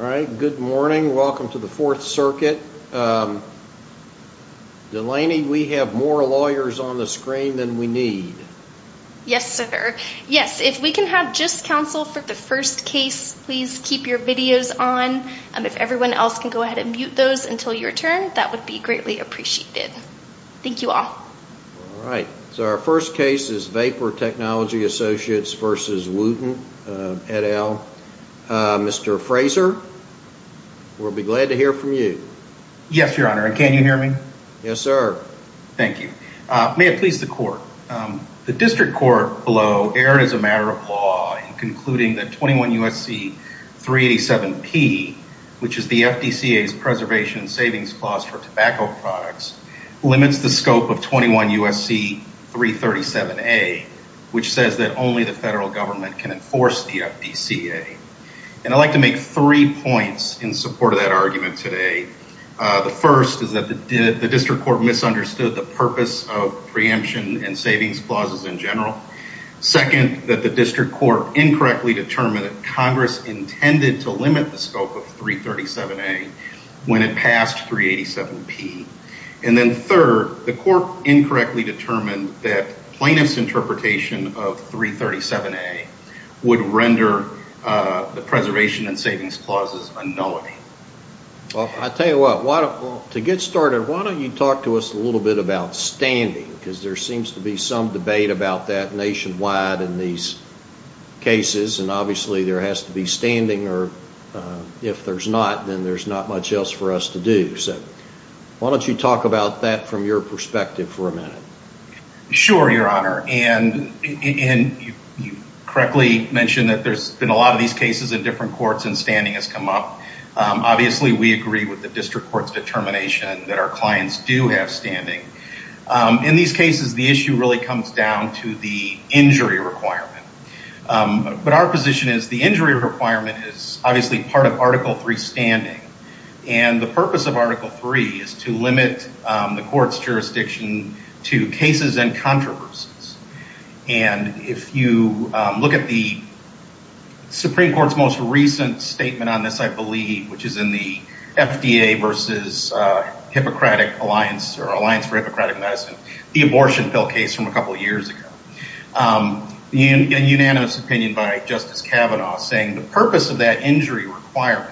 Alright, good morning. Welcome to the Fourth Circuit. Delaney, we have more lawyers on the screen than we need. Yes, sir. Yes, if we can have just counsel for the first case, please keep your videos on. If everyone else can go ahead and mute those until your turn, that would be greatly appreciated. Thank you all. Alright, so our first case is Vapor Technology Associates v. Wooten, et al. Mr. Fraser, we'll be glad to hear from you. Yes, your honor, and can you hear me? Yes, sir. Thank you. May it please the court. The district court below erred as a matter of law in concluding that 21 U.S.C. 387-P, which is the FDCA's preservation savings clause for tobacco products, limits the scope of 21 U.S.C. 337-A, which says that only the federal government can enforce the FDCA. And I'd like to make three points in support of that argument today. The first is that the district court misunderstood the purpose of preemption and savings clauses in general. Second, that the district court incorrectly determined that Congress intended to limit the scope of 337-A when it passed 387-P. And then third, the court incorrectly determined that plaintiff's interpretation of 337-A would render the preservation and savings clauses a nullity. Well, I'll tell you what, to get started, why don't you talk to us a little bit about standing? Because there seems to be some debate about that nationwide in these cases, and obviously there has to be standing, or if there's not, then there's not much else for us to do. So why don't you talk about that from your perspective for a minute? Sure, Your Honor. And you correctly mentioned that there's been a lot of these cases in different courts and standing has come up. Obviously, we agree with the district court's determination that our clients do have standing. In these cases, the issue really comes down to the injury requirement. But our position is the injury requirement is obviously part of Article III standing, and the purpose of Article III is to limit the court's jurisdiction to cases and controversies. And if you look at the Supreme Court's most recent statement on this, I believe, which is in the FDA versus Hippocratic Alliance or Alliance for Hippocratic Medicine, the abortion bill case from a couple of years ago, a unanimous opinion by Justice Kavanaugh saying the purpose of that injury requirement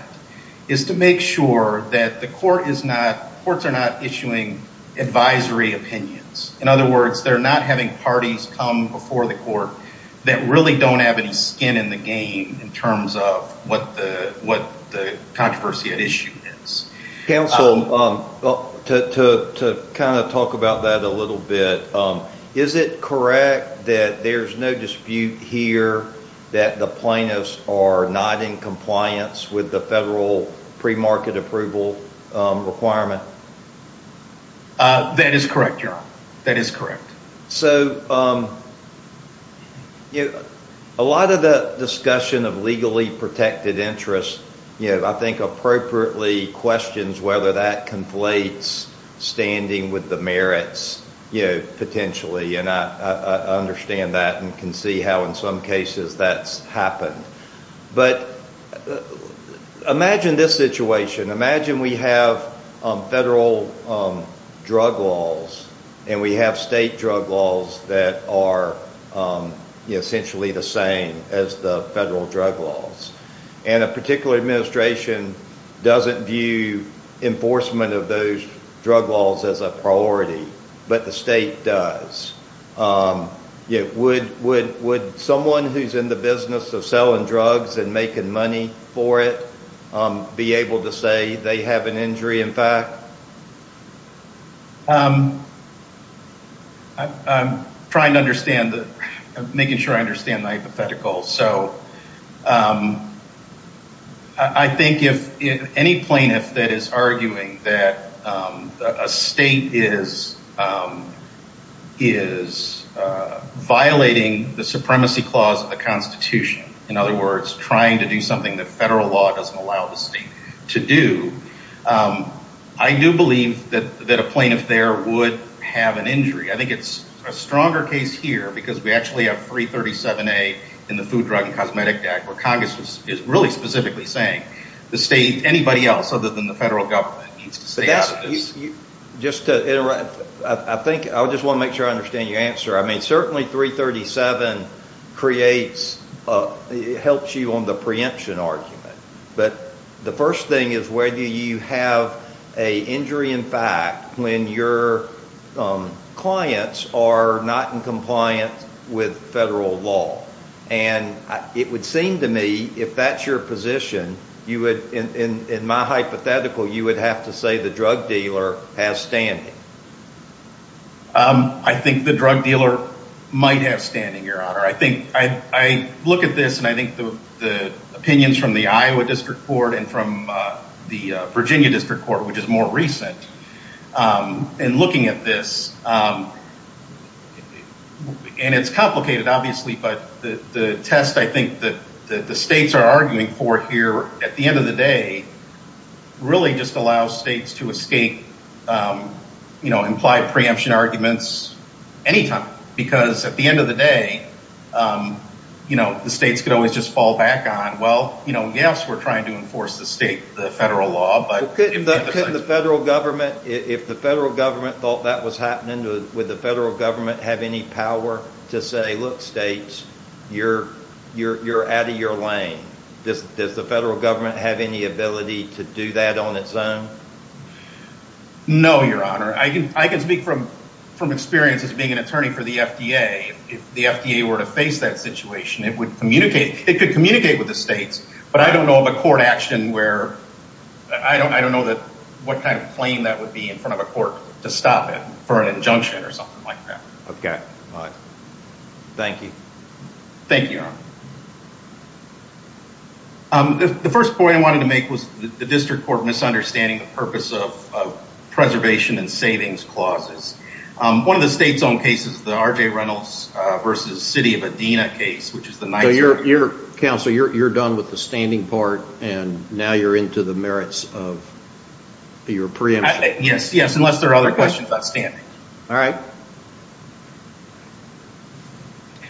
is to make sure that the courts are not issuing advisory opinions. In other words, they're not having parties come before the court that really don't have any skin in the game in terms of what the controversy at issue is. Counsel, to kind of talk about that a little bit, is it correct that there's no dispute here that the plaintiffs are not in compliance with the federal premarket approval requirement? That is correct, Your Honor. That is correct. So a lot of the discussion of legally protected interests, I think appropriately questions whether that conflates standing with the merits, potentially, and I understand that and can see how in some cases that's happened. But imagine this situation. Imagine we have federal drug laws and we have state drug laws that are essentially the same as the federal drug laws. And a particular administration doesn't view enforcement of those drug laws as a priority, but the state does. Would someone who's in the business of selling drugs and making money for it be able to say they have an injury in fact? I'm trying to understand, making sure I understand my hypothetical. So I think if any plaintiff that is arguing that a state is violating the supremacy clause of the Constitution, in other words, trying to do something that federal law doesn't allow the state to do, I do believe that a plaintiff there would have an injury. I think it's a stronger case here because we actually have 337A in the Food, Drug, and Cosmetic Act where Congress is really specifically saying the state, anybody else other than the federal government, needs to stay out of this. I think I just want to make sure I understand your answer. I mean, certainly 337 creates, helps you on the preemption argument. But the first thing is whether you have an injury in fact when your clients are not in compliance with federal law. And it would seem to me, if that's your position, you would, in my hypothetical, you would have to say the drug dealer has standing. I think the drug dealer might have standing, Your Honor. I look at this and I think the opinions from the Iowa District Court and from the Virginia District Court, which is more recent, and looking at this, and it's complicated, obviously, but the test I think that the states are arguing for here at the end of the day really just allows states to escape implied preemption arguments anytime because at the end of the day, the states could always just fall back on, well, yes, we're trying to enforce the state, the federal law, but... Could the federal government, if the federal government thought that was happening, would the federal government have any power to say, look, states, you're out of your lane? Does the federal government have any ability to do that on its own? No, Your Honor. I can speak from experience as being an attorney for the FDA. If the FDA were to face that situation, it could communicate with the states, but I don't know of a court action where I don't know what kind of claim that would be in front of a court to stop it for an injunction or something like that. Okay. Thank you. Thank you, Your Honor. The first point I wanted to make was the district court misunderstanding the purpose of preservation and savings clauses. One of the state's own cases, the R.J. Reynolds v. City of Adena case, which is the... Counsel, you're done with the standing part, and now you're into the merits of your preemption. Yes, yes, unless there are other questions about standing. All right.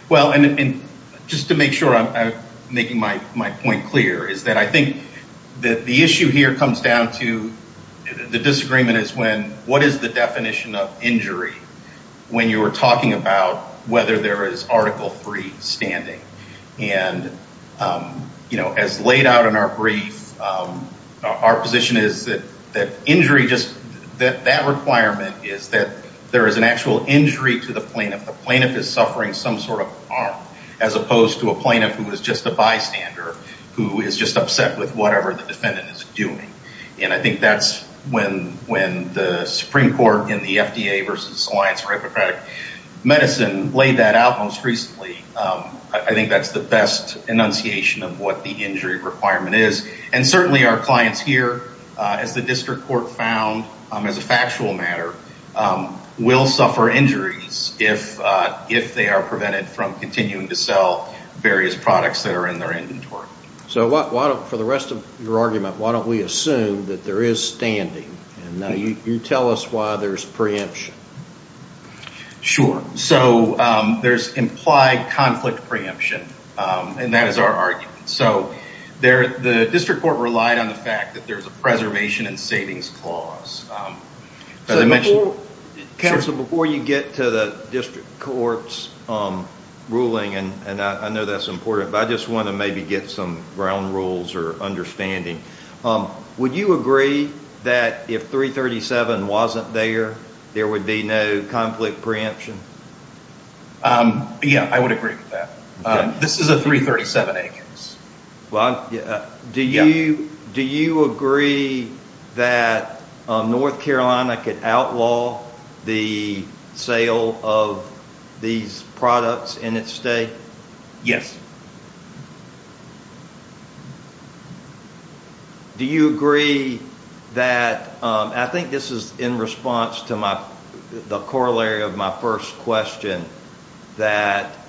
Well, and just to make sure I'm making my point clear, is that I think that the issue here comes down to the disagreement is when, what is the definition of injury when you are talking about whether there is Article III standing? And, you know, as laid out in our brief, our position is that injury just, that requirement is that there is an actual injury to the plaintiff. The plaintiff is suffering some sort of harm as opposed to a plaintiff who is just a bystander, who is just upset with whatever the defendant is doing. And I think that's when the Supreme Court in the FDA v. Alliance for Hippocratic Medicine laid that out most recently. I think that's the best enunciation of what the injury requirement is. And certainly our clients here, as the district court found as a factual matter, will suffer injuries if they are prevented from continuing to sell various products that are in their inventory. So why don't, for the rest of your argument, why don't we assume that there is standing? And now you tell us why there's preemption. Sure. So there's implied conflict preemption, and that is our argument. So the district court relied on the fact that there's a preservation and savings clause. Counsel, before you get to the district court's ruling, and I know that's important, but I just want to maybe get some ground rules or understanding. Would you agree that if 337 wasn't there, there would be no conflict preemption? Yeah, I would agree with that. This is a 337 agency. Do you agree that North Carolina could outlaw the sale of these products in its state? Yes. Do you agree that, I think this is in response to the corollary of my first question, that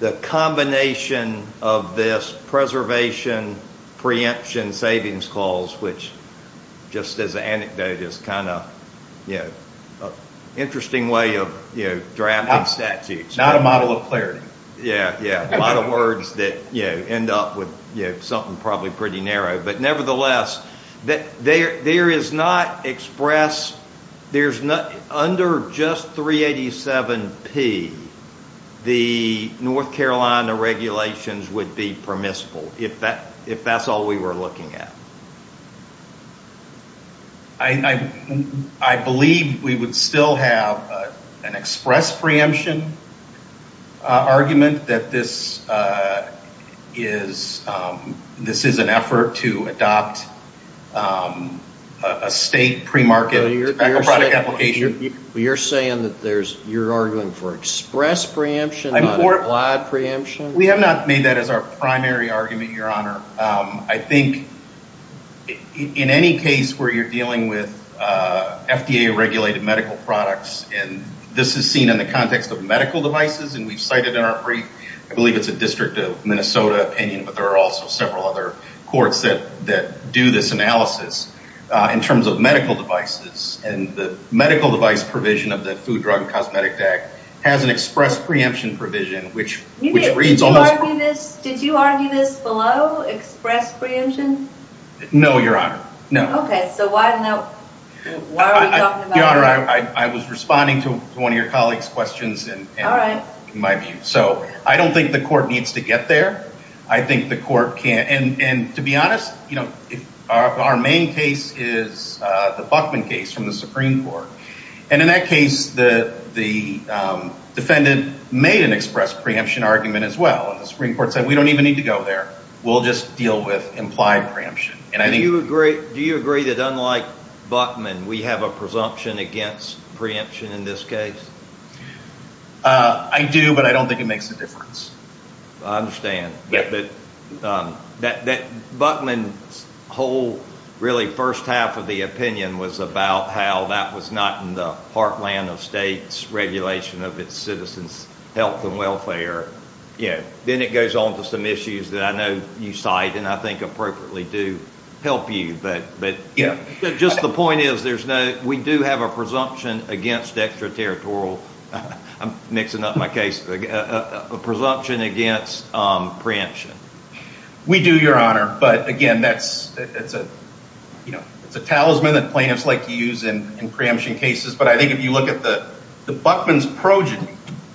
the combination of this preservation, preemption, savings clause, which just as an anecdote is kind of an interesting way of drafting statutes. Not a model of clarity. Yeah, a lot of words that end up with something probably pretty narrow. But nevertheless, there is not express, under just 387P, the North Carolina regulations would be permissible if that's all we were looking at. I believe we would still have an express preemption argument that this is an effort to adopt a state pre-market tobacco product application. You're saying that you're arguing for express preemption, not implied preemption? We have not made that as our primary argument, Your Honor. I think in any case where you're dealing with FDA regulated medical products, and this is seen in the context of medical devices, and we've cited in our brief, I believe it's a District of Minnesota opinion, but there are also several other courts that do this analysis. In terms of medical devices, and the medical device provision of the Food, Drug, and Cosmetic Act has an express preemption provision, which reads almost- No, Your Honor. No. Okay, so why are we talking about that? Your Honor, I was responding to one of your colleagues' questions in my view. So I don't think the court needs to get there. I think the court can't. And to be honest, our main case is the Buckman case from the Supreme Court. And in that case, the defendant made an express preemption argument as well. The Supreme Court said, we don't even need to go there. We'll just deal with implied preemption. And I think- Do you agree that unlike Buckman, we have a presumption against preemption in this case? I do, but I don't think it makes a difference. I understand. But Buckman's whole, really first half of the opinion was about how that was not in the heartland of states' regulation of its citizens' health and welfare. Then it goes on to some issues that I know you cite and I think appropriately do help you. But just the point is, we do have a presumption against extraterritorial- I'm mixing up my case- a presumption against preemption. We do, Your Honor. But again, it's a talisman that plaintiffs like to use in preemption cases. But I think if you look at the Buckman's progeny,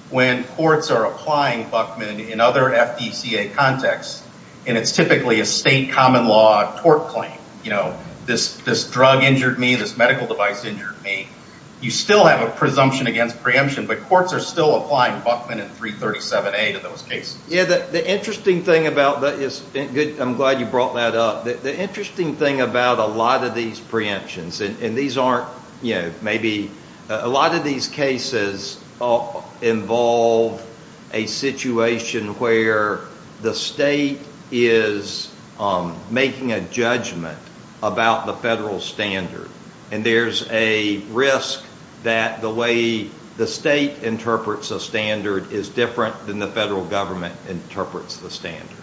when courts are applying Buckman in other FDCA contexts, and it's typically a state common law tort claim, you know, this drug injured me, this medical device injured me, you still have a presumption against preemption, but courts are still applying Buckman in 337A to those cases. Yeah, the interesting thing about- I'm glad you brought that up. The interesting thing about a lot of these preemptions, and these aren't, you know, maybe- a lot of these cases involve a situation where the state is making a judgment about the federal standard, and there's a risk that the way the state interprets a standard is different than the federal government interprets the standard.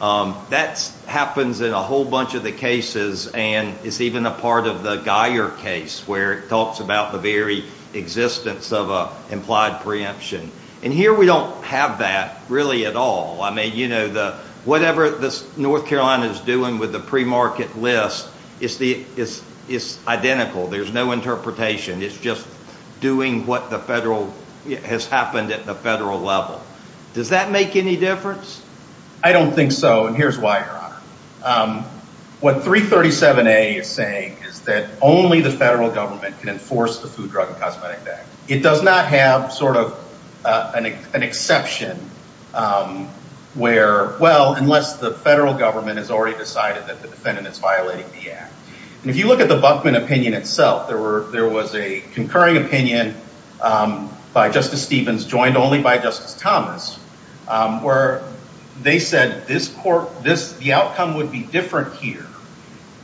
That happens in a whole bunch of the cases, and it's even a part of the Geyer case, where it talks about the very existence of an implied preemption. And here we don't have that really at all. I mean, you know, whatever North Carolina is doing with the pre-market list, it's identical. There's no interpretation. It's just doing what has happened at the federal level. Does that make any difference? I don't think so, and here's why, Your Honor. What 337A is saying is that only the federal government can enforce the Food, Drug, and Cosmetic Act. It does not have sort of an exception where- well, unless the federal government has already decided that the defendant is violating the act. And if you look at the Buckman opinion itself, there was a concurring opinion by Justice Stevens, joined only by Justice Thomas, where they said the outcome would be different here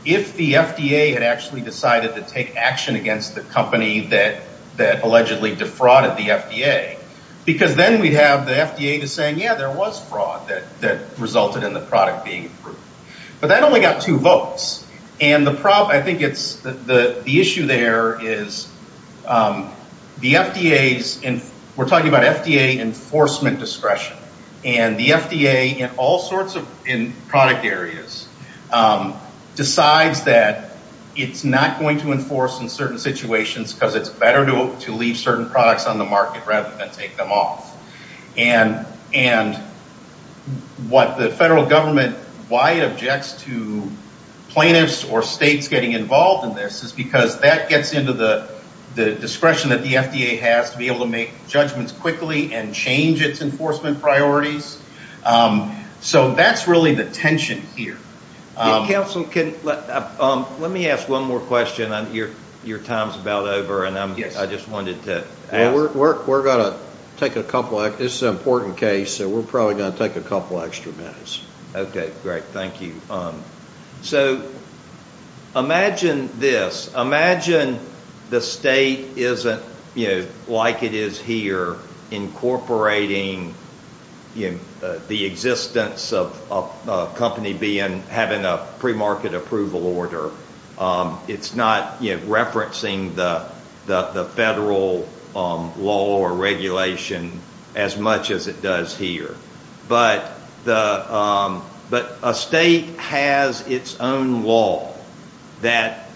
if the FDA had actually decided to take action against the company that allegedly defrauded the FDA. Because then we'd have the FDA saying, yeah, there was fraud that resulted in the product being approved. But that only got two votes. And the issue there is the FDA's- And the FDA, in all sorts of product areas, decides that it's not going to enforce in certain situations because it's better to leave certain products on the market rather than take them off. And what the federal government- why it objects to plaintiffs or states getting involved in this is because that gets into the discretion that the FDA has to be able to make judgments quickly and change its enforcement priorities. So that's really the tension here. Counsel, let me ask one more question. Your time's about over, and I just wanted to ask- We're going to take a couple- This is an important case, so we're probably going to take a couple extra minutes. Okay, great. Thank you. So imagine this. Imagine the state isn't, like it is here, incorporating the existence of a company having a premarket approval order. It's not referencing the federal law or regulation as much as it does here. But a state has its own law that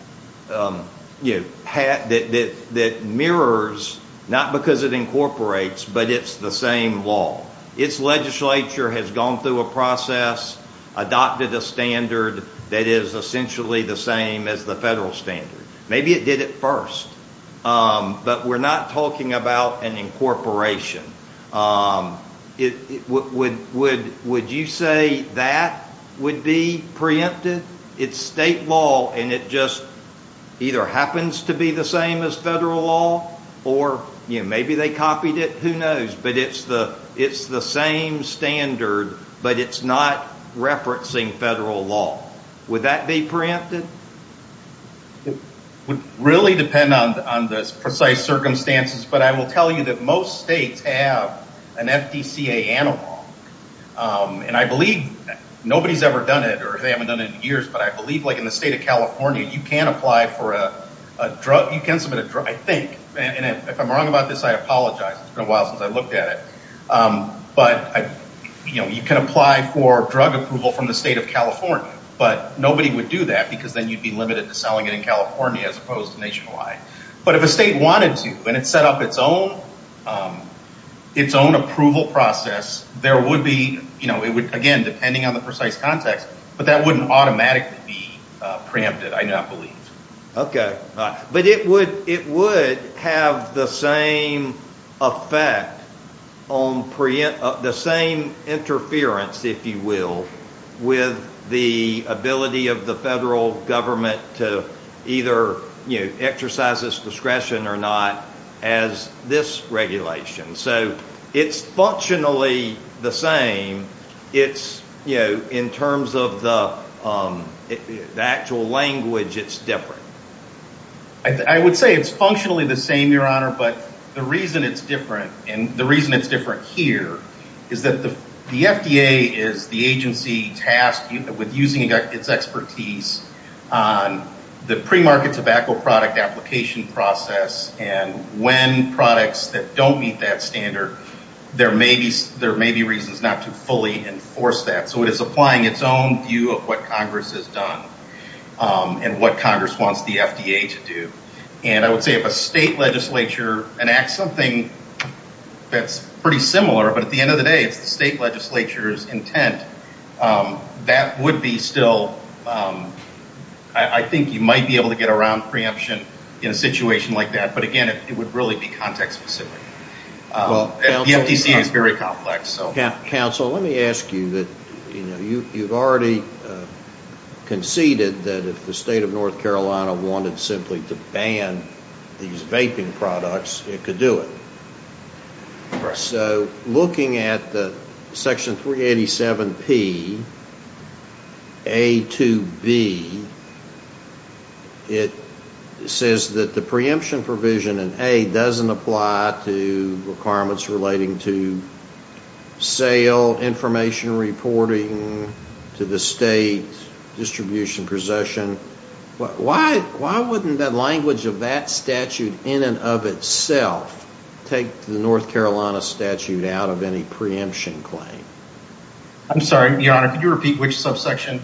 mirrors- not because it incorporates, but it's the same law. Its legislature has gone through a process, adopted a standard that is essentially the same as the federal standard. Maybe it did it first. But we're not talking about an incorporation. Would you say that would be preempted? It's state law, and it just either happens to be the same as federal law, or maybe they copied it. Who knows? But it's the same standard, but it's not referencing federal law. Would that be preempted? It would really depend on the precise circumstances, but I will tell you that most states have an FDCA analog. And I believe nobody's ever done it, or they haven't done it in years, but I believe like in the state of California, you can apply for a drug. You can submit a drug, I think. And if I'm wrong about this, I apologize. It's been a while since I looked at it. But you can apply for drug approval from the state of California, but nobody would do that because then you'd be limited to selling it in California as opposed to nationwide. But if a state wanted to, and it set up its own approval process, there would be, again, depending on the precise context, but that wouldn't automatically be preempted, I do not believe. Okay. But it would have the same effect, the same interference, if you will, with the ability of the federal government to either exercise its discretion or not as this regulation. So it's functionally the same. It's, you know, in terms of the actual language, it's different. I would say it's functionally the same, Your Honor, but the reason it's different, and the reason it's different here, is that the FDA is the agency tasked with using its expertise on the pre-market tobacco product application process, and when products that don't meet that standard, there may be reasons not to fully enforce that. So it is applying its own view of what Congress has done and what Congress wants the FDA to do. And I would say if a state legislature enacts something that's pretty similar, but at the end of the day it's the state legislature's intent, that would be still, I think you might be able to get around preemption in a situation like that. But, again, it would really be context specific. The FDC is very complex. Counsel, let me ask you that you've already conceded that if the state of North Carolina wanted simply to ban these vaping products, it could do it. So looking at Section 387P, A to B, it says that the preemption provision in A doesn't apply to requirements relating to sale, information reporting to the state, distribution, possession. Why wouldn't the language of that statute in and of itself take the North Carolina statute out of any preemption claim? I'm sorry, Your Honor, could you repeat which subsection?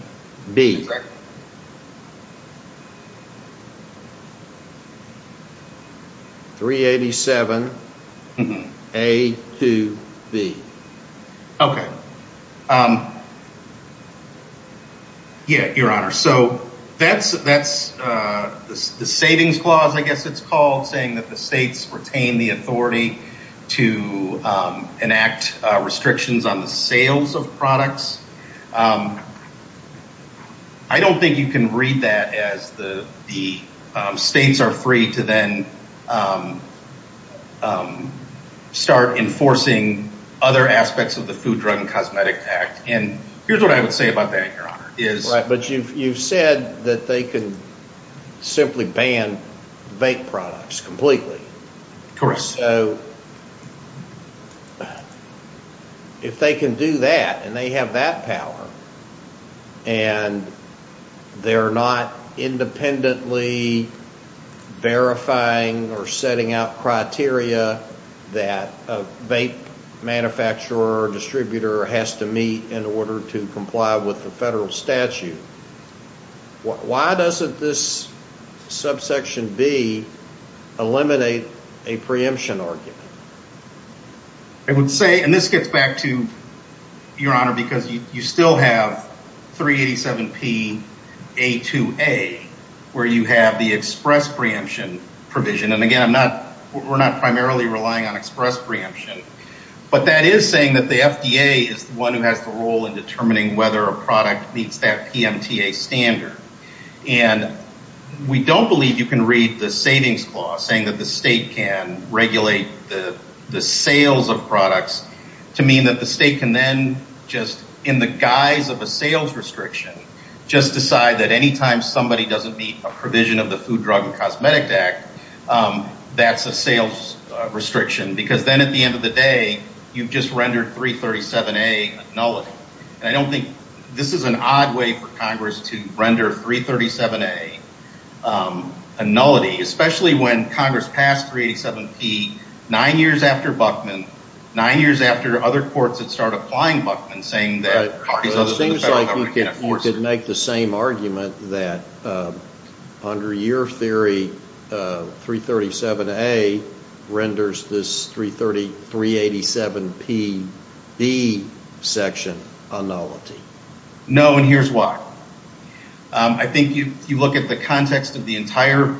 387A to B. Okay. Yeah, Your Honor, so that's the savings clause, I guess it's called, saying that the states retain the authority to enact restrictions on the sales of products. I don't think you can read that as the states are free to then start enforcing other aspects of the Food, Drug, and Cosmetic Act. And here's what I would say about that, Your Honor. Right, but you've said that they can simply ban vape products completely. Correct. So if they can do that and they have that power and they're not independently verifying or setting out criteria that a vape manufacturer or distributor has to meet in order to comply with the federal statute, why doesn't this subsection B eliminate a preemption argument? I would say, and this gets back to, Your Honor, because you still have 387P.A.2.A. where you have the express preemption provision. And again, we're not primarily relying on express preemption. But that is saying that the FDA is the one who has the role in determining whether a product meets that PMTA standard. And we don't believe you can read the savings clause saying that the state can regulate the sales of products to mean that the state can then just, in the guise of a sales restriction, just decide that any time somebody doesn't meet a provision of the Food, Drug, and Cosmetic Act, that's a sales restriction. Because then at the end of the day, you've just rendered 337A a nullity. And I don't think this is an odd way for Congress to render 337A a nullity, especially when Congress passed 387P nine years after Buckman, nine years after other courts had started applying Buckman, saying that parties of the federal government can't enforce it. It seems like you could make the same argument that under your theory, 337A renders this 387PB section a nullity. No, and here's why. I think if you look at the context of the entire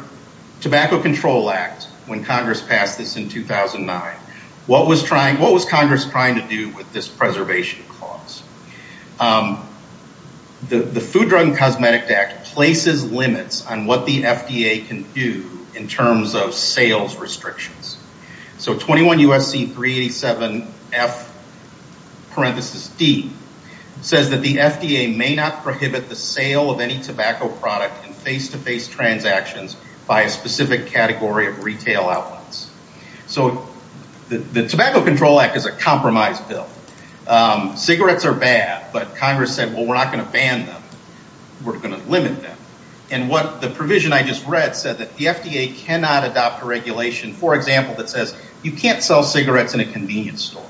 Tobacco Control Act, when Congress passed this in 2009, what was Congress trying to do with this preservation clause? The Food, Drug, and Cosmetic Act places limits on what the FDA can do in terms of sales restrictions. So 21 U.S.C. 387F parenthesis D says that the FDA may not prohibit the sale of any tobacco product in face-to-face transactions by a specific category of retail outlets. So the Tobacco Control Act is a compromise bill. Cigarettes are bad, but Congress said, well, we're not going to ban them. We're going to limit them. And the provision I just read said that the FDA cannot adopt a regulation, for example, that says you can't sell cigarettes in a convenience store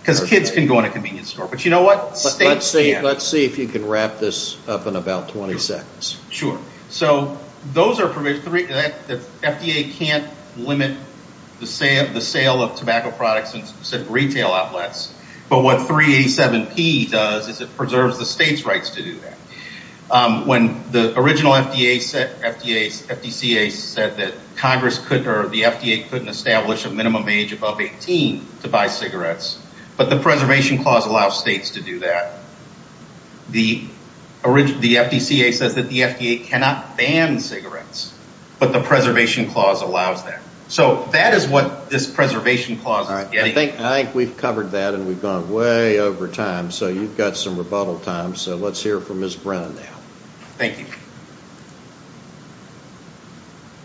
because kids can go in a convenience store. But you know what? States can. Let's see if you can wrap this up in about 20 seconds. Sure. So those are provisions. The FDA can't limit the sale of tobacco products in specific retail outlets. But what 387P does is it preserves the state's rights to do that. When the original FDCA said that Congress couldn't or the FDA couldn't establish a minimum age above 18 to buy cigarettes, but the Preservation Clause allows states to do that. The FDCA says that the FDA cannot ban cigarettes, but the Preservation Clause allows that. So that is what this Preservation Clause is getting at. I think we've covered that, and we've gone way over time. So you've got some rebuttal time. So let's hear from Ms. Brennan now. Thank you.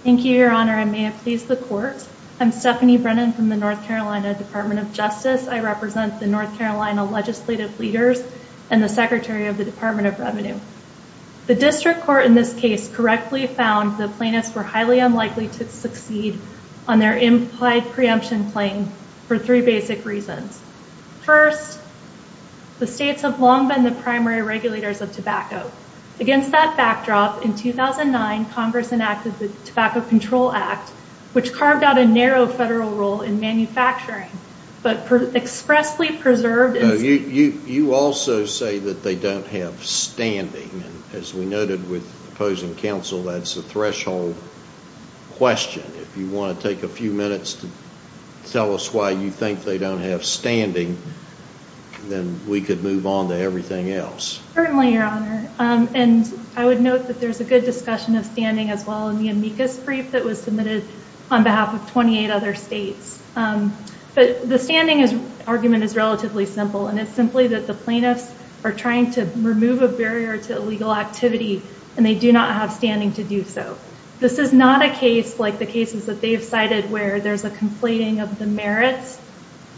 Thank you, Your Honor. I may have pleased the Court. I'm Stephanie Brennan from the North Carolina Department of Justice. I represent the North Carolina legislative leaders and the Secretary of the Department of Revenue. The district court in this case correctly found the plaintiffs were highly unlikely to succeed on their implied preemption claim for three basic reasons. First, the states have long been the primary regulators of tobacco. Against that backdrop, in 2009, Congress enacted the Tobacco Control Act, which carved out a narrow federal role in manufacturing, but expressly preserved its... You also say that they don't have standing. As we noted with opposing counsel, that's a threshold question. If you want to take a few minutes to tell us why you think they don't have standing, then we could move on to everything else. Certainly, Your Honor. And I would note that there's a good discussion of standing as well in the amicus brief that was submitted on behalf of 28 other states. But the standing argument is relatively simple, and it's simply that the plaintiffs are trying to remove a barrier to illegal activity, and they do not have standing to do so. This is not a case like the cases that they've cited where there's a conflating of the merits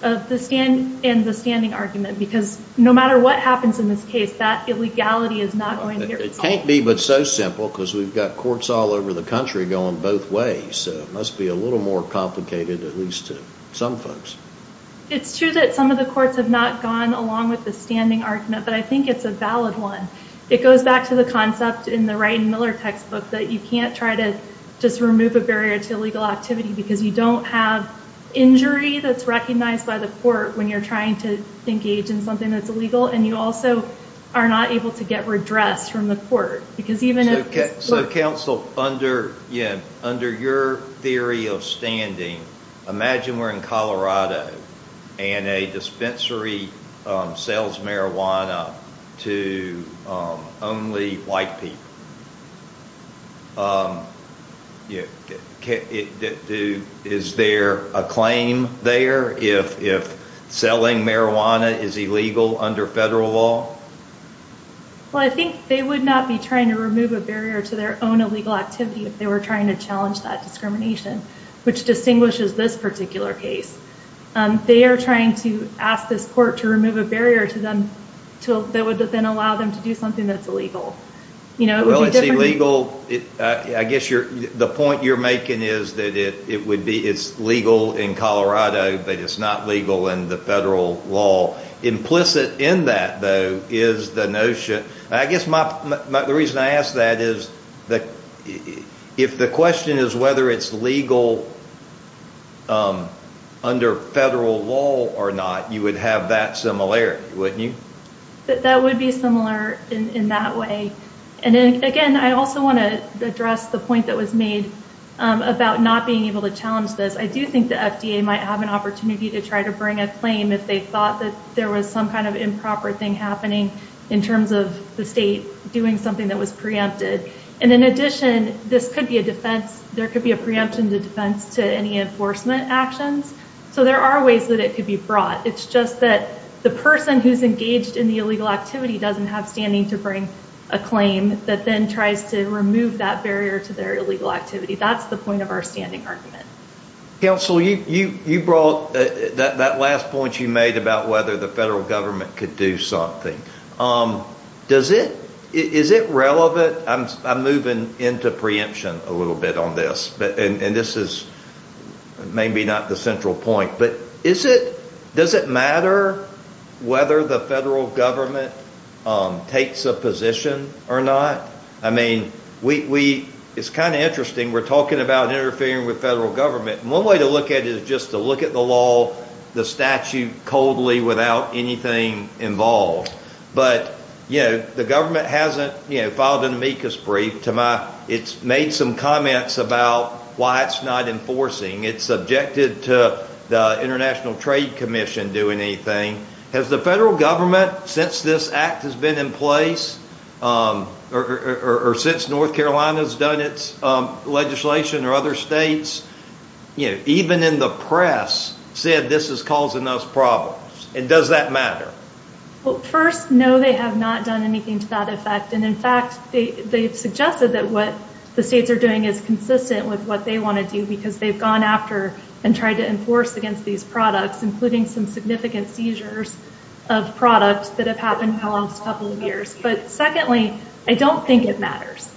in the standing argument because no matter what happens in this case, that illegality is not going to get resolved. It can't be but so simple because we've got courts all over the country going both ways. It must be a little more complicated, at least to some folks. It's true that some of the courts have not gone along with the standing argument, but I think it's a valid one. It goes back to the concept in the Wright and Miller textbook that you can't try to just remove a barrier to illegal activity because you don't have injury that's recognized by the court when you're trying to engage in something that's illegal, and you also are not able to get redressed from the court. So, counsel, under your theory of standing, imagine we're in Colorado and a dispensary sells marijuana to only white people. Is there a claim there if selling marijuana is illegal under federal law? Well, I think they would not be trying to remove a barrier to their own illegal activity if they were trying to challenge that discrimination, which distinguishes this particular case. They are trying to ask this court to remove a barrier to them that would then allow them to do something that's illegal. Well, it's illegal. I guess the point you're making is that it's legal in Colorado, but it's not legal in the federal law. Implicit in that, though, is the notion. The reason I ask that is if the question is whether it's legal under federal law or not, you would have that similarity, wouldn't you? That would be similar in that way. Again, I also want to address the point that was made about not being able to challenge this. I do think the FDA might have an opportunity to try to bring a claim if they thought that there was some kind of improper thing happening in terms of the state doing something that was preempted. And in addition, this could be a defense. There could be a preemption to defense to any enforcement actions. So there are ways that it could be brought. It's just that the person who's engaged in the illegal activity doesn't have standing to bring a claim that then tries to remove that barrier to their illegal activity. That's the point of our standing argument. Counsel, you brought that last point you made about whether the federal government could do something. Is it relevant? I'm moving into preemption a little bit on this, and this is maybe not the central point. But does it matter whether the federal government takes a position or not? I mean, it's kind of interesting. We're talking about interfering with federal government. One way to look at it is just to look at the law, the statute, coldly without anything involved. But the government hasn't filed an amicus brief. It's made some comments about why it's not enforcing. It's subjected to the International Trade Commission doing anything. Has the federal government, since this act has been in place or since North Carolina has done its legislation or other states, even in the press, said this is causing us problems? And does that matter? Well, first, no, they have not done anything to that effect. And, in fact, they've suggested that what the states are doing is consistent with what they want to do because they've gone after and tried to enforce against these products, including some significant seizures of products that have happened in the last couple of years. But, secondly, I don't think it matters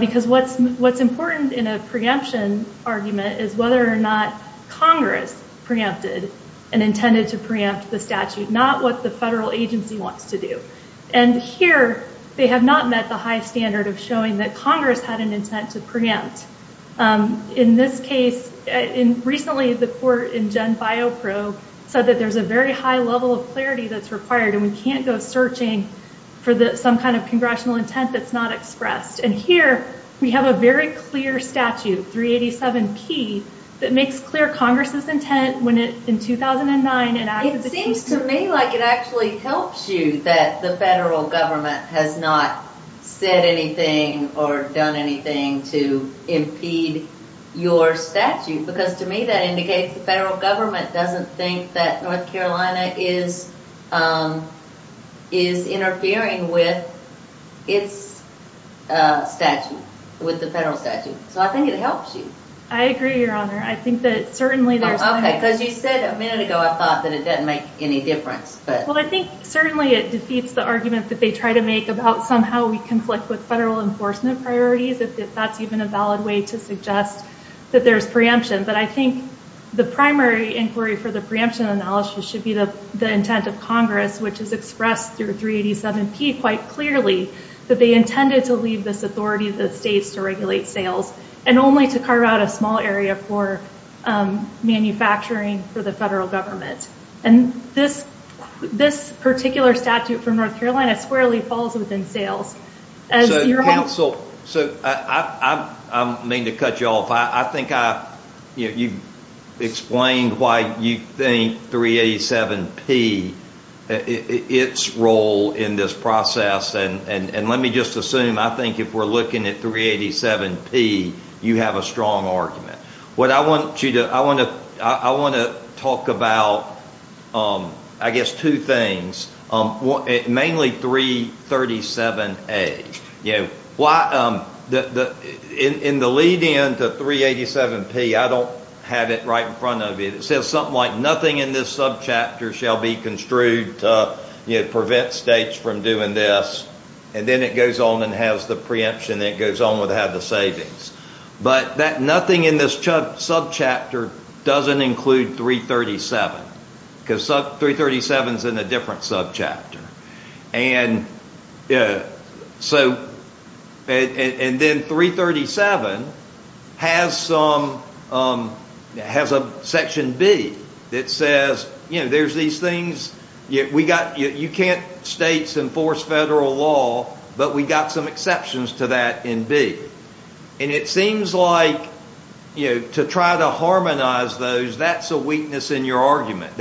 because what's important in a preemption argument is whether or not Congress preempted and intended to preempt the statute, not what the federal agency wants to do. And here they have not met the high standard of showing that Congress had an intent to preempt. In this case, recently the court in Gen Biopro said that there's a very high level of clarity that's required and we can't go searching for some kind of congressional intent that's not expressed. And here we have a very clear statute, 387P, that makes clear Congress's intent in 2009. It seems to me like it actually helps you that the federal government has not said anything or done anything to impede your statute because, to me, that indicates the federal government doesn't think that North Carolina is interfering with its statute, with the federal statute. So I think it helps you. I agree, Your Honor. Okay, because you said a minute ago I thought that it didn't make any difference. Well, I think certainly it defeats the argument that they try to make about somehow we conflict with federal enforcement priorities, if that's even a valid way to suggest that there's preemption. But I think the primary inquiry for the preemption analysis should be the intent of Congress, which is expressed through 387P quite clearly, that they intended to leave this authority to the states to regulate sales and only to carve out a small area for manufacturing for the federal government. And this particular statute for North Carolina squarely falls within sales. So, counsel, I don't mean to cut you off. I think you explained why you think 387P, its role in this process. And let me just assume I think if we're looking at 387P, you have a strong argument. What I want to talk about, I guess, two things, mainly 337A. In the lead-in to 387P, I don't have it right in front of you. It says something like, nothing in this subchapter shall be construed to prevent states from doing this. And then it goes on and has the preemption, and it goes on with how to have the savings. But that nothing in this subchapter doesn't include 337, because 337 is in a different subchapter. And then 337 has a section B that says, you know, there's these things. You can't states enforce federal law, but we got some exceptions to that in B. And it seems like to try to harmonize those, that's a weakness in your argument.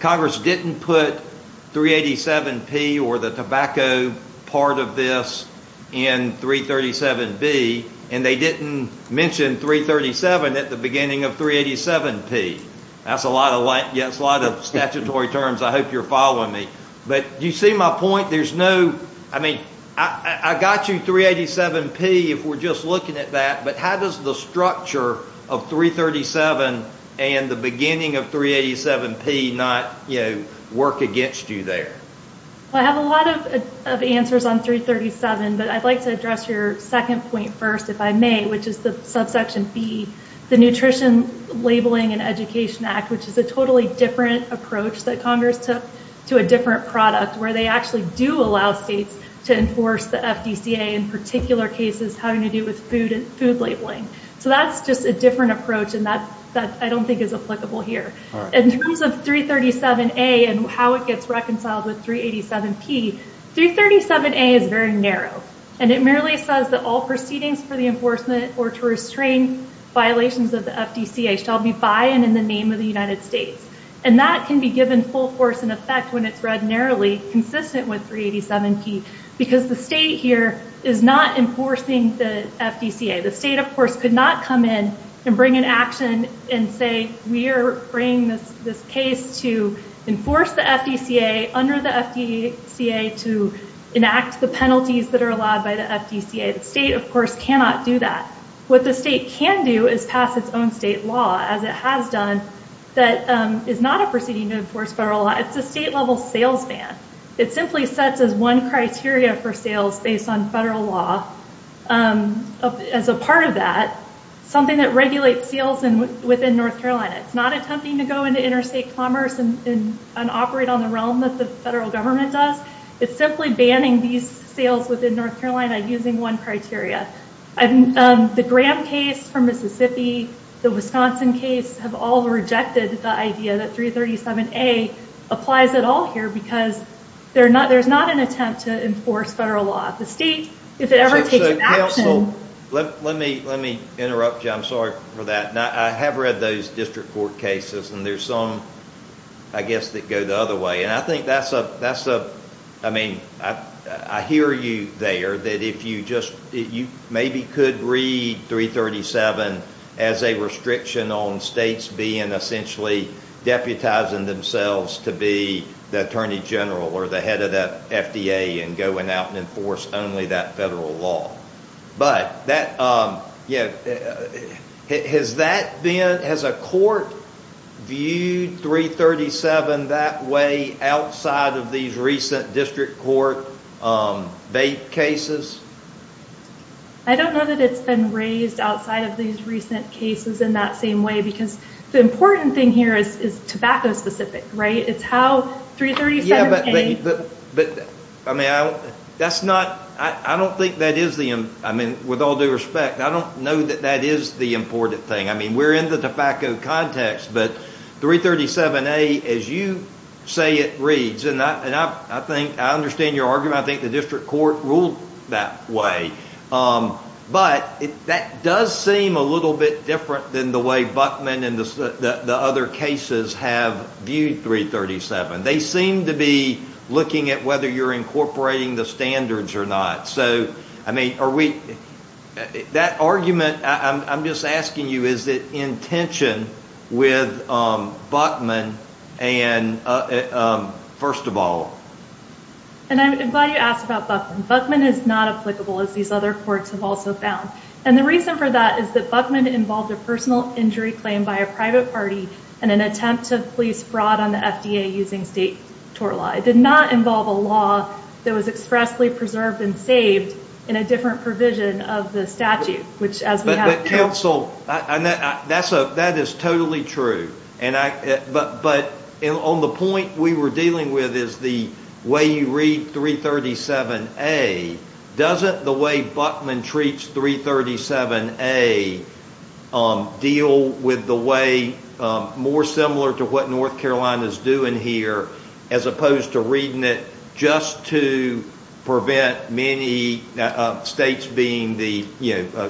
Congress didn't put 387P or the tobacco part of this in 337B. And they didn't mention 337 at the beginning of 387P. That's a lot of statutory terms. I hope you're following me. But do you see my point? I mean, I got you 387P if we're just looking at that. But how does the structure of 337 and the beginning of 387P not, you know, work against you there? Well, I have a lot of answers on 337, but I'd like to address your second point first, if I may, which is the subsection B, the Nutrition Labeling and Education Act, which is a totally different approach that Congress took to a different product, where they actually do allow states to enforce the FDCA in particular cases having to do with food labeling. So that's just a different approach, and that I don't think is applicable here. In terms of 337A and how it gets reconciled with 387P, 337A is very narrow. And it merely says that all proceedings for the enforcement or to restrain violations of the FDCA shall be by and in the name of the United States. And that can be given full force and effect when it's read narrowly, consistent with 387P, because the state here is not enforcing the FDCA. The state, of course, could not come in and bring an action and say, we are bringing this case to enforce the FDCA under the FDCA to enact the penalties that are allowed by the FDCA. The state, of course, cannot do that. What the state can do is pass its own state law, as it has done, that is not a proceeding to enforce federal law. It's a state-level sales ban. It simply sets as one criteria for sales based on federal law. As a part of that, something that regulates sales within North Carolina. It's not attempting to go into interstate commerce and operate on the realm that the federal government does. It's simply banning these sales within North Carolina using one criteria. The Graham case from Mississippi, the Wisconsin case, have all rejected the idea that 337A applies at all here, because there's not an attempt to enforce federal law. The state, if it ever takes an action- Counsel, let me interrupt you. I'm sorry for that. I have read those district court cases, and there's some, I guess, that go the other way. I hear you there, that you maybe could read 337 as a restriction on states being essentially deputizing themselves to be the Attorney General or the head of the FDA and going out and enforcing only that federal law. Has a court viewed 337 that way outside of these recent district court cases? I don't know that it's been raised outside of these recent cases in that same way, because the important thing here is tobacco-specific, right? It's how 337A- That's not- I don't think that is the- With all due respect, I don't know that that is the important thing. We're in the tobacco context, but 337A, as you say it reads, and I understand your argument, I think the district court ruled that way, but that does seem a little bit different than the way Buckman and the other cases have viewed 337. They seem to be looking at whether you're incorporating the standards or not. So, I mean, are we- That argument, I'm just asking you, is it in tension with Buckman and- First of all- And I'm glad you asked about Buckman. Buckman is not applicable, as these other courts have also found. And the reason for that is that Buckman involved a personal injury claim by a private party in an attempt to police fraud on the FDA using state tort law. It did not involve a law that was expressly preserved and saved in a different provision of the statute, which as we have- But counsel, that is totally true. But on the point we were dealing with is the way you read 337A, doesn't the way Buckman treats 337A deal with the way more similar to what North Carolina is doing here, as opposed to reading it just to prevent many states being the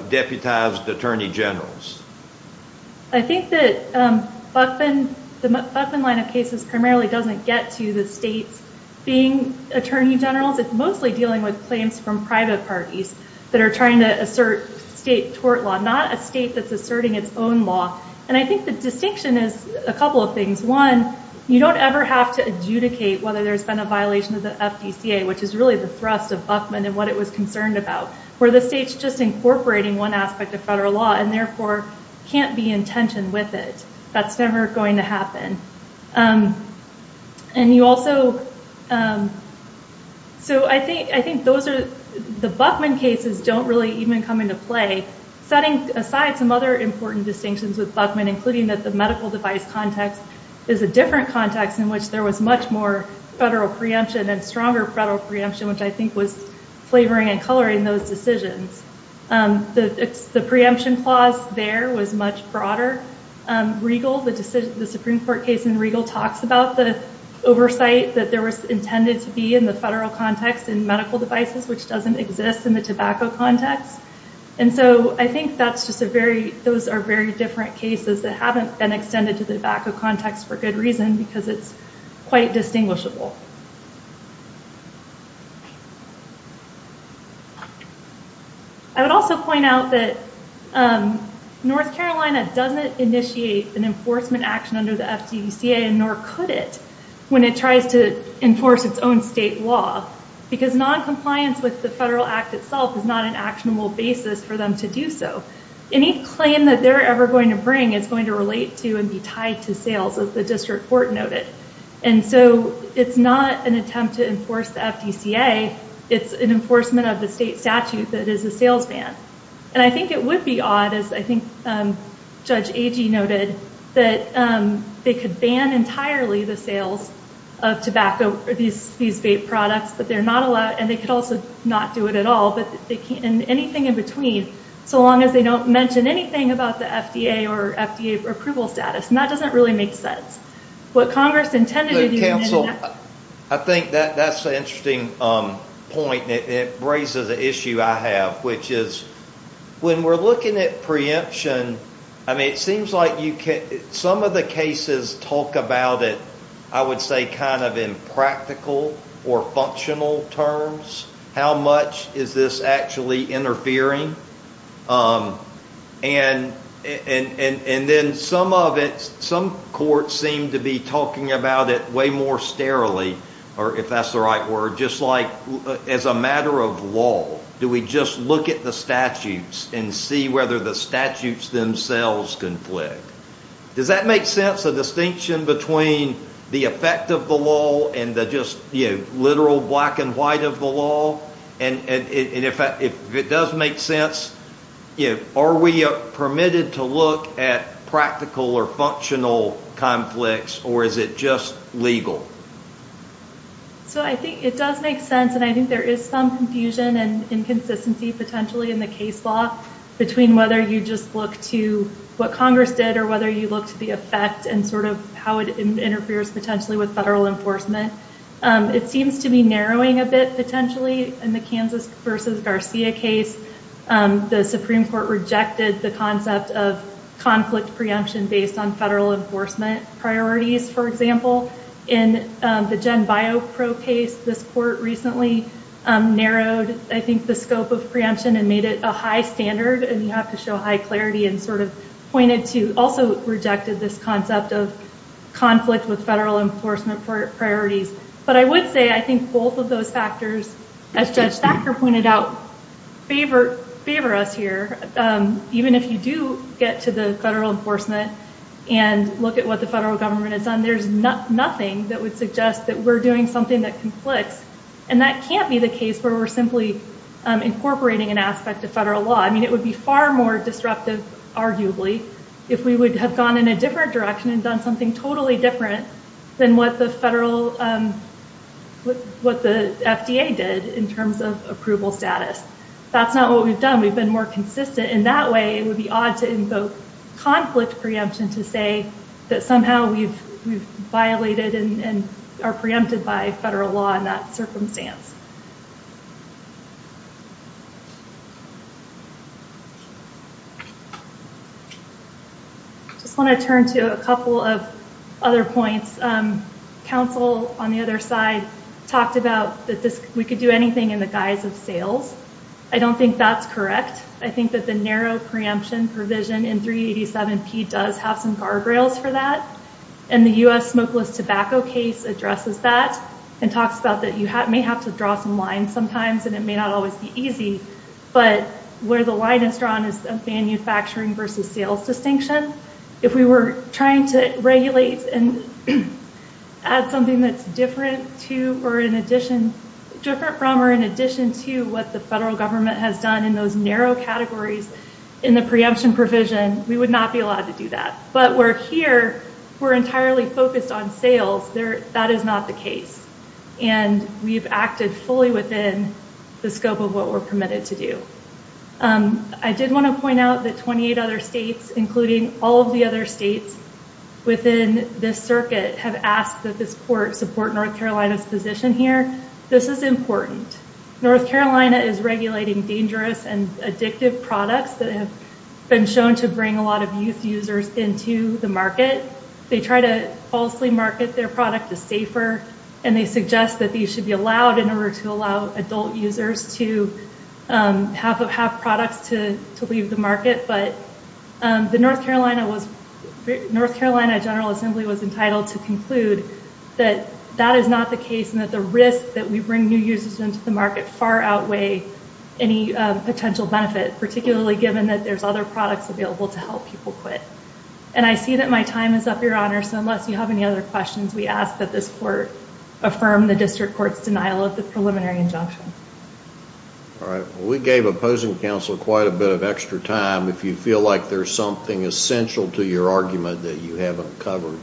deputized attorney generals? I think that the Buckman line of cases primarily doesn't get to the states being attorney generals. It's mostly dealing with claims from private parties that are trying to assert state tort law, not a state that's asserting its own law. And I think the distinction is a couple of things. One, you don't ever have to adjudicate whether there's been a violation of the FDCA, which is really the thrust of Buckman and what it was concerned about, where the state's just incorporating one aspect of federal law and, therefore, can't be in tension with it. That's never going to happen. And you also- So I think those are- The Buckman cases don't really even come into play. Setting aside some other important distinctions with Buckman, including that the medical device context is a different context in which there was much more federal preemption and stronger federal preemption, which I think was flavoring and coloring those decisions. The preemption clause there was much broader. Regal, the Supreme Court case in Regal, talks about the oversight that there was intended to be in the federal context in medical devices, which doesn't exist in the tobacco context. And so I think that's just a very- Those are very different cases that haven't been extended to the tobacco context for good reason because it's quite distinguishable. I would also point out that North Carolina doesn't initiate an enforcement action under the FDCA, nor could it, when it tries to enforce its own state law, because noncompliance with the federal act itself is not an actionable basis for them to do so. Any claim that they're ever going to bring is going to relate to and be tied to sales, as the district court noted. And so it's not an attempt to enforce the FDCA. It's an enforcement of the state statute that is a sales ban. And I think it would be odd, as I think Judge Agee noted, that they could ban entirely the sales of tobacco, these vape products, but they're not allowed, and they could also not do it at all, and anything in between, so long as they don't mention anything about the FDA or FDA approval status. And that doesn't really make sense. What Congress intended to do— Counsel, I think that's an interesting point, and it raises an issue I have, which is when we're looking at preemption, I mean, it seems like some of the cases talk about it, I would say, kind of in practical or functional terms. How much is this actually interfering? And then some of it, some courts seem to be talking about it way more sterilely, or if that's the right word, just like as a matter of law. Do we just look at the statutes and see whether the statutes themselves conflict? Does that make sense, a distinction between the effect of the law and the just literal black and white of the law? And if it does make sense, are we permitted to look at practical or functional conflicts, or is it just legal? So I think it does make sense, and I think there is some confusion and inconsistency potentially in the case law between whether you just look to what Congress did or whether you look to the effect and sort of how it interferes potentially with federal enforcement. It seems to be narrowing a bit potentially in the Kansas versus Garcia case. The Supreme Court rejected the concept of conflict preemption based on federal enforcement priorities, for example. In the GenBioPro case, this court recently narrowed, I think, the scope of preemption and made it a high standard, and you have to show high clarity and sort of pointed to, also rejected this concept of conflict with federal enforcement priorities. But I would say I think both of those factors, as Judge Thacker pointed out, favor us here. Even if you do get to the federal enforcement and look at what the federal government has done, there's nothing that would suggest that we're doing something that conflicts, and that can't be the case where we're simply incorporating an aspect of federal law. I mean, it would be far more disruptive, arguably, if we would have gone in a different direction and done something totally different than what the FDA did in terms of approval status. That's not what we've done. We've been more consistent, and that way it would be odd to invoke conflict preemption to say that somehow we've violated and are preempted by federal law in that circumstance. I just want to turn to a couple of other points. Counsel on the other side talked about that we could do anything in the guise of sales. I don't think that's correct. I think that the narrow preemption provision in 387P does have some guardrails for that, and the U.S. smokeless tobacco case addresses that and talks about that you may have to draw some lines sometimes, and it may not always be easy, but where the line is drawn is the manufacturing versus sales distinction. If we were trying to regulate and add something that's different from or in addition to what the federal government has done in those narrow categories in the preemption provision, we would not be allowed to do that. But we're here. We're entirely focused on sales. That is not the case, and we've acted fully within the scope of what we're permitted to do. I did want to point out that 28 other states, including all of the other states within this circuit, have asked that this court support North Carolina's position here. This is important. North Carolina is regulating dangerous and addictive products that have been shown to bring a lot of youth users into the market. They try to falsely market their product as safer, and they suggest that these should be allowed in order to allow adult users to have products to leave the market, but the North Carolina General Assembly was entitled to conclude that that is not the case and that the risk that we bring new users into the market far outweigh any potential benefit, particularly given that there's other products available to help people quit. I see that my time is up, Your Honor, so unless you have any other questions, we ask that this court affirm the district court's denial of the preliminary injunction. All right. We gave opposing counsel quite a bit of extra time. If you feel like there's something essential to your argument that you haven't covered,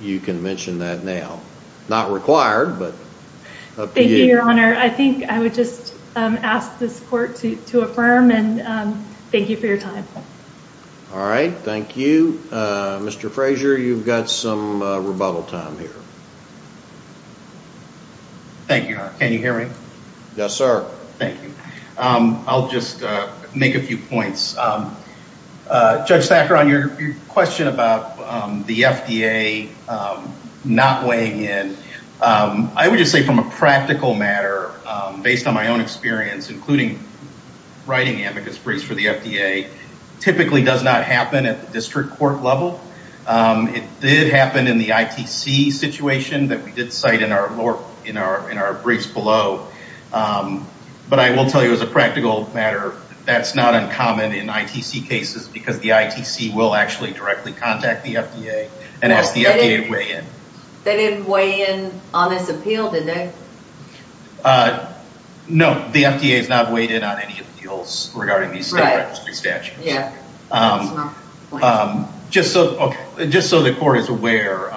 you can mention that now. Not required, but up to you. Thank you, Your Honor. I think I would just ask this court to affirm, and thank you for your time. All right. Thank you. Mr. Frazier, you've got some rebuttal time here. Thank you, Your Honor. Can you hear me? Yes, sir. Thank you. I'll just make a few points. Judge Thacker, on your question about the FDA not weighing in, I would just say from a practical matter, based on my own experience, including writing amicus briefs for the FDA, typically does not happen at the district court level. It did happen in the ITC situation that we did cite in our briefs below, but I will tell you as a practical matter, that's not uncommon in ITC cases because the ITC will actually directly contact the FDA and ask the FDA to weigh in. They didn't weigh in on this appeal, did they? No. The FDA has not weighed in on any appeals regarding these statutes. Yeah. Just so the court is aware,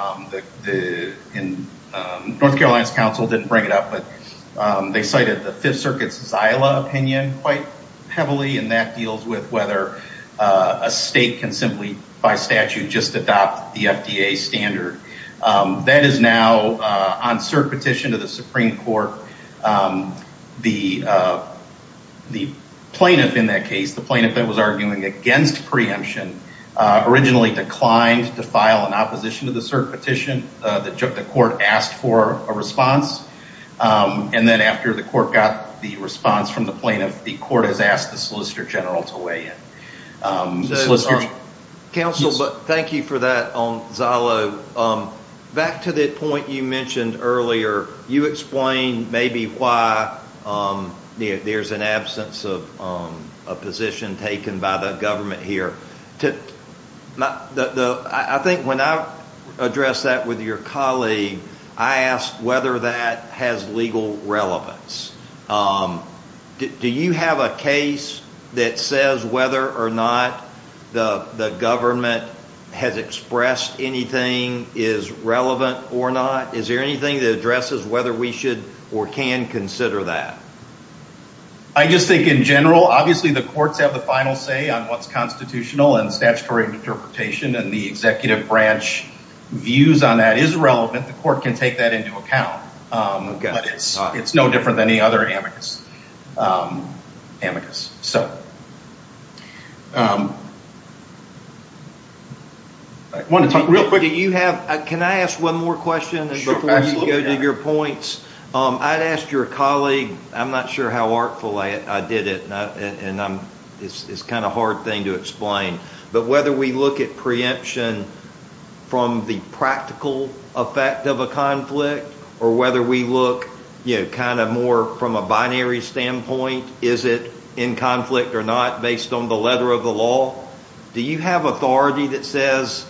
North Carolina's counsel didn't bring it up, but they cited the Fifth Circuit's Xyla opinion quite heavily, and that deals with whether a state can simply, by statute, just adopt the FDA standard. That is now on cert petition to the Supreme Court. The plaintiff in that case, the plaintiff that was arguing against preemption, originally declined to file an opposition to the cert petition. The court asked for a response, and then after the court got the response from the plaintiff, the court has asked the Solicitor General to weigh in. Counsel, thank you for that on Xyla. Back to the point you mentioned earlier, you explained maybe why there's an absence of a position taken by the government here. I think when I addressed that with your colleague, I asked whether that has legal relevance. Do you have a case that says whether or not the government has expressed anything, is relevant or not? Is there anything that addresses whether we should or can consider that? I just think in general, obviously the courts have the final say on what's constitutional and statutory interpretation, and the executive branch views on that is relevant. The court can take that into account. It's no different than any other amicus. Can I ask one more question before you go to your points? I'd ask your colleague, I'm not sure how artful I did it, and it's kind of a hard thing to explain, but whether we look at preemption from the practical effect of a conflict or whether we look more from a binary standpoint, is it in conflict or not based on the letter of the law, do you have authority that says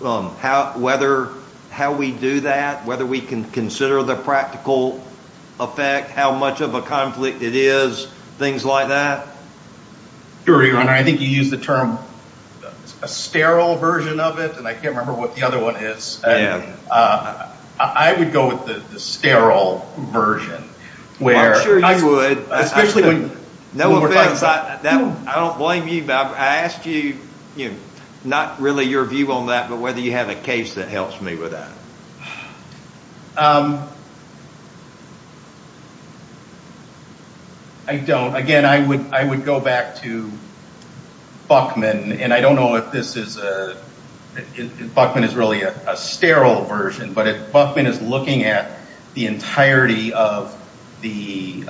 how we do that, whether we can consider the practical effect, how much of a conflict it is, things like that? I think you used the term, a sterile version of it, and I can't remember what the other one is. I would go with the sterile version. I'm sure you would. I don't blame you. I asked you, not really your view on that, but whether you have a case that helps me with that. I don't. Again, I would go back to Buchman, and I don't know if Buchman is really a sterile version, but Buchman is looking at the entirety of the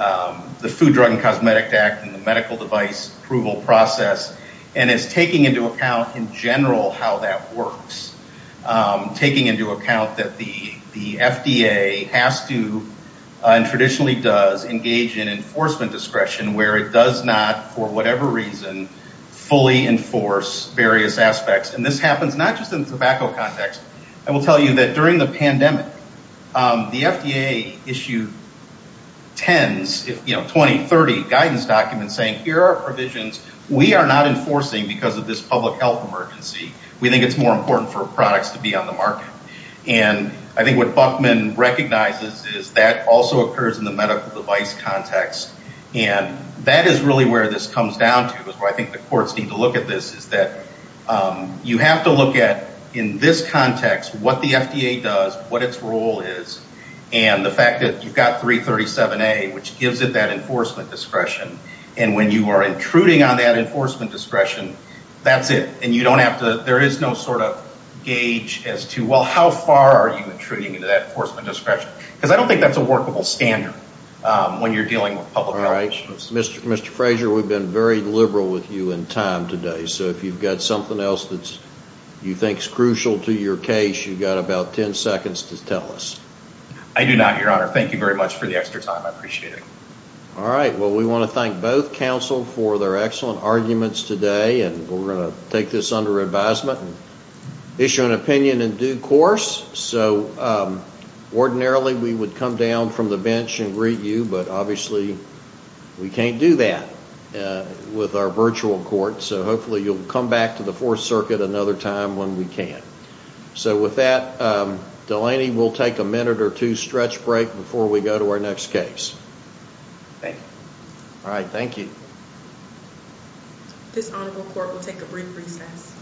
Food, Drug, and Cosmetic Act and the medical device approval process and is taking into account in general how that works, taking into account that the FDA has to, and traditionally does, engage in enforcement discretion where it does not, for whatever reason, fully enforce various aspects. And this happens not just in the tobacco context. I will tell you that during the pandemic, the FDA issued tens, 20, 30 guidance documents saying, Here are our provisions. We are not enforcing because of this public health emergency. We think it's more important for products to be on the market. And I think what Buchman recognizes is that also occurs in the medical device context, and that is really where this comes down to is where I think the courts need to look at this, is that you have to look at, in this context, what the FDA does, what its role is, and the fact that you've got 337A, which gives it that enforcement discretion, and when you are intruding on that enforcement discretion, that's it. And you don't have to. There is no sort of gauge as to, well, how far are you intruding into that enforcement discretion? Because I don't think that's a workable standard when you're dealing with public health issues. Mr. Frazier, we've been very liberal with you in time today, so if you've got something else that you think is crucial to your case, you've got about 10 seconds to tell us. I do not, Your Honor. Thank you very much for the extra time. I appreciate it. All right. Well, we want to thank both counsel for their excellent arguments today, and we're going to take this under advisement and issue an opinion in due course. So ordinarily, we would come down from the bench and greet you, but obviously we can't do that with our virtual court, so hopefully you'll come back to the Fourth Circuit another time when we can. So with that, Delaney, we'll take a minute or two stretch break before we go to our next case. Thank you. All right, thank you. This honorable court will take a brief recess.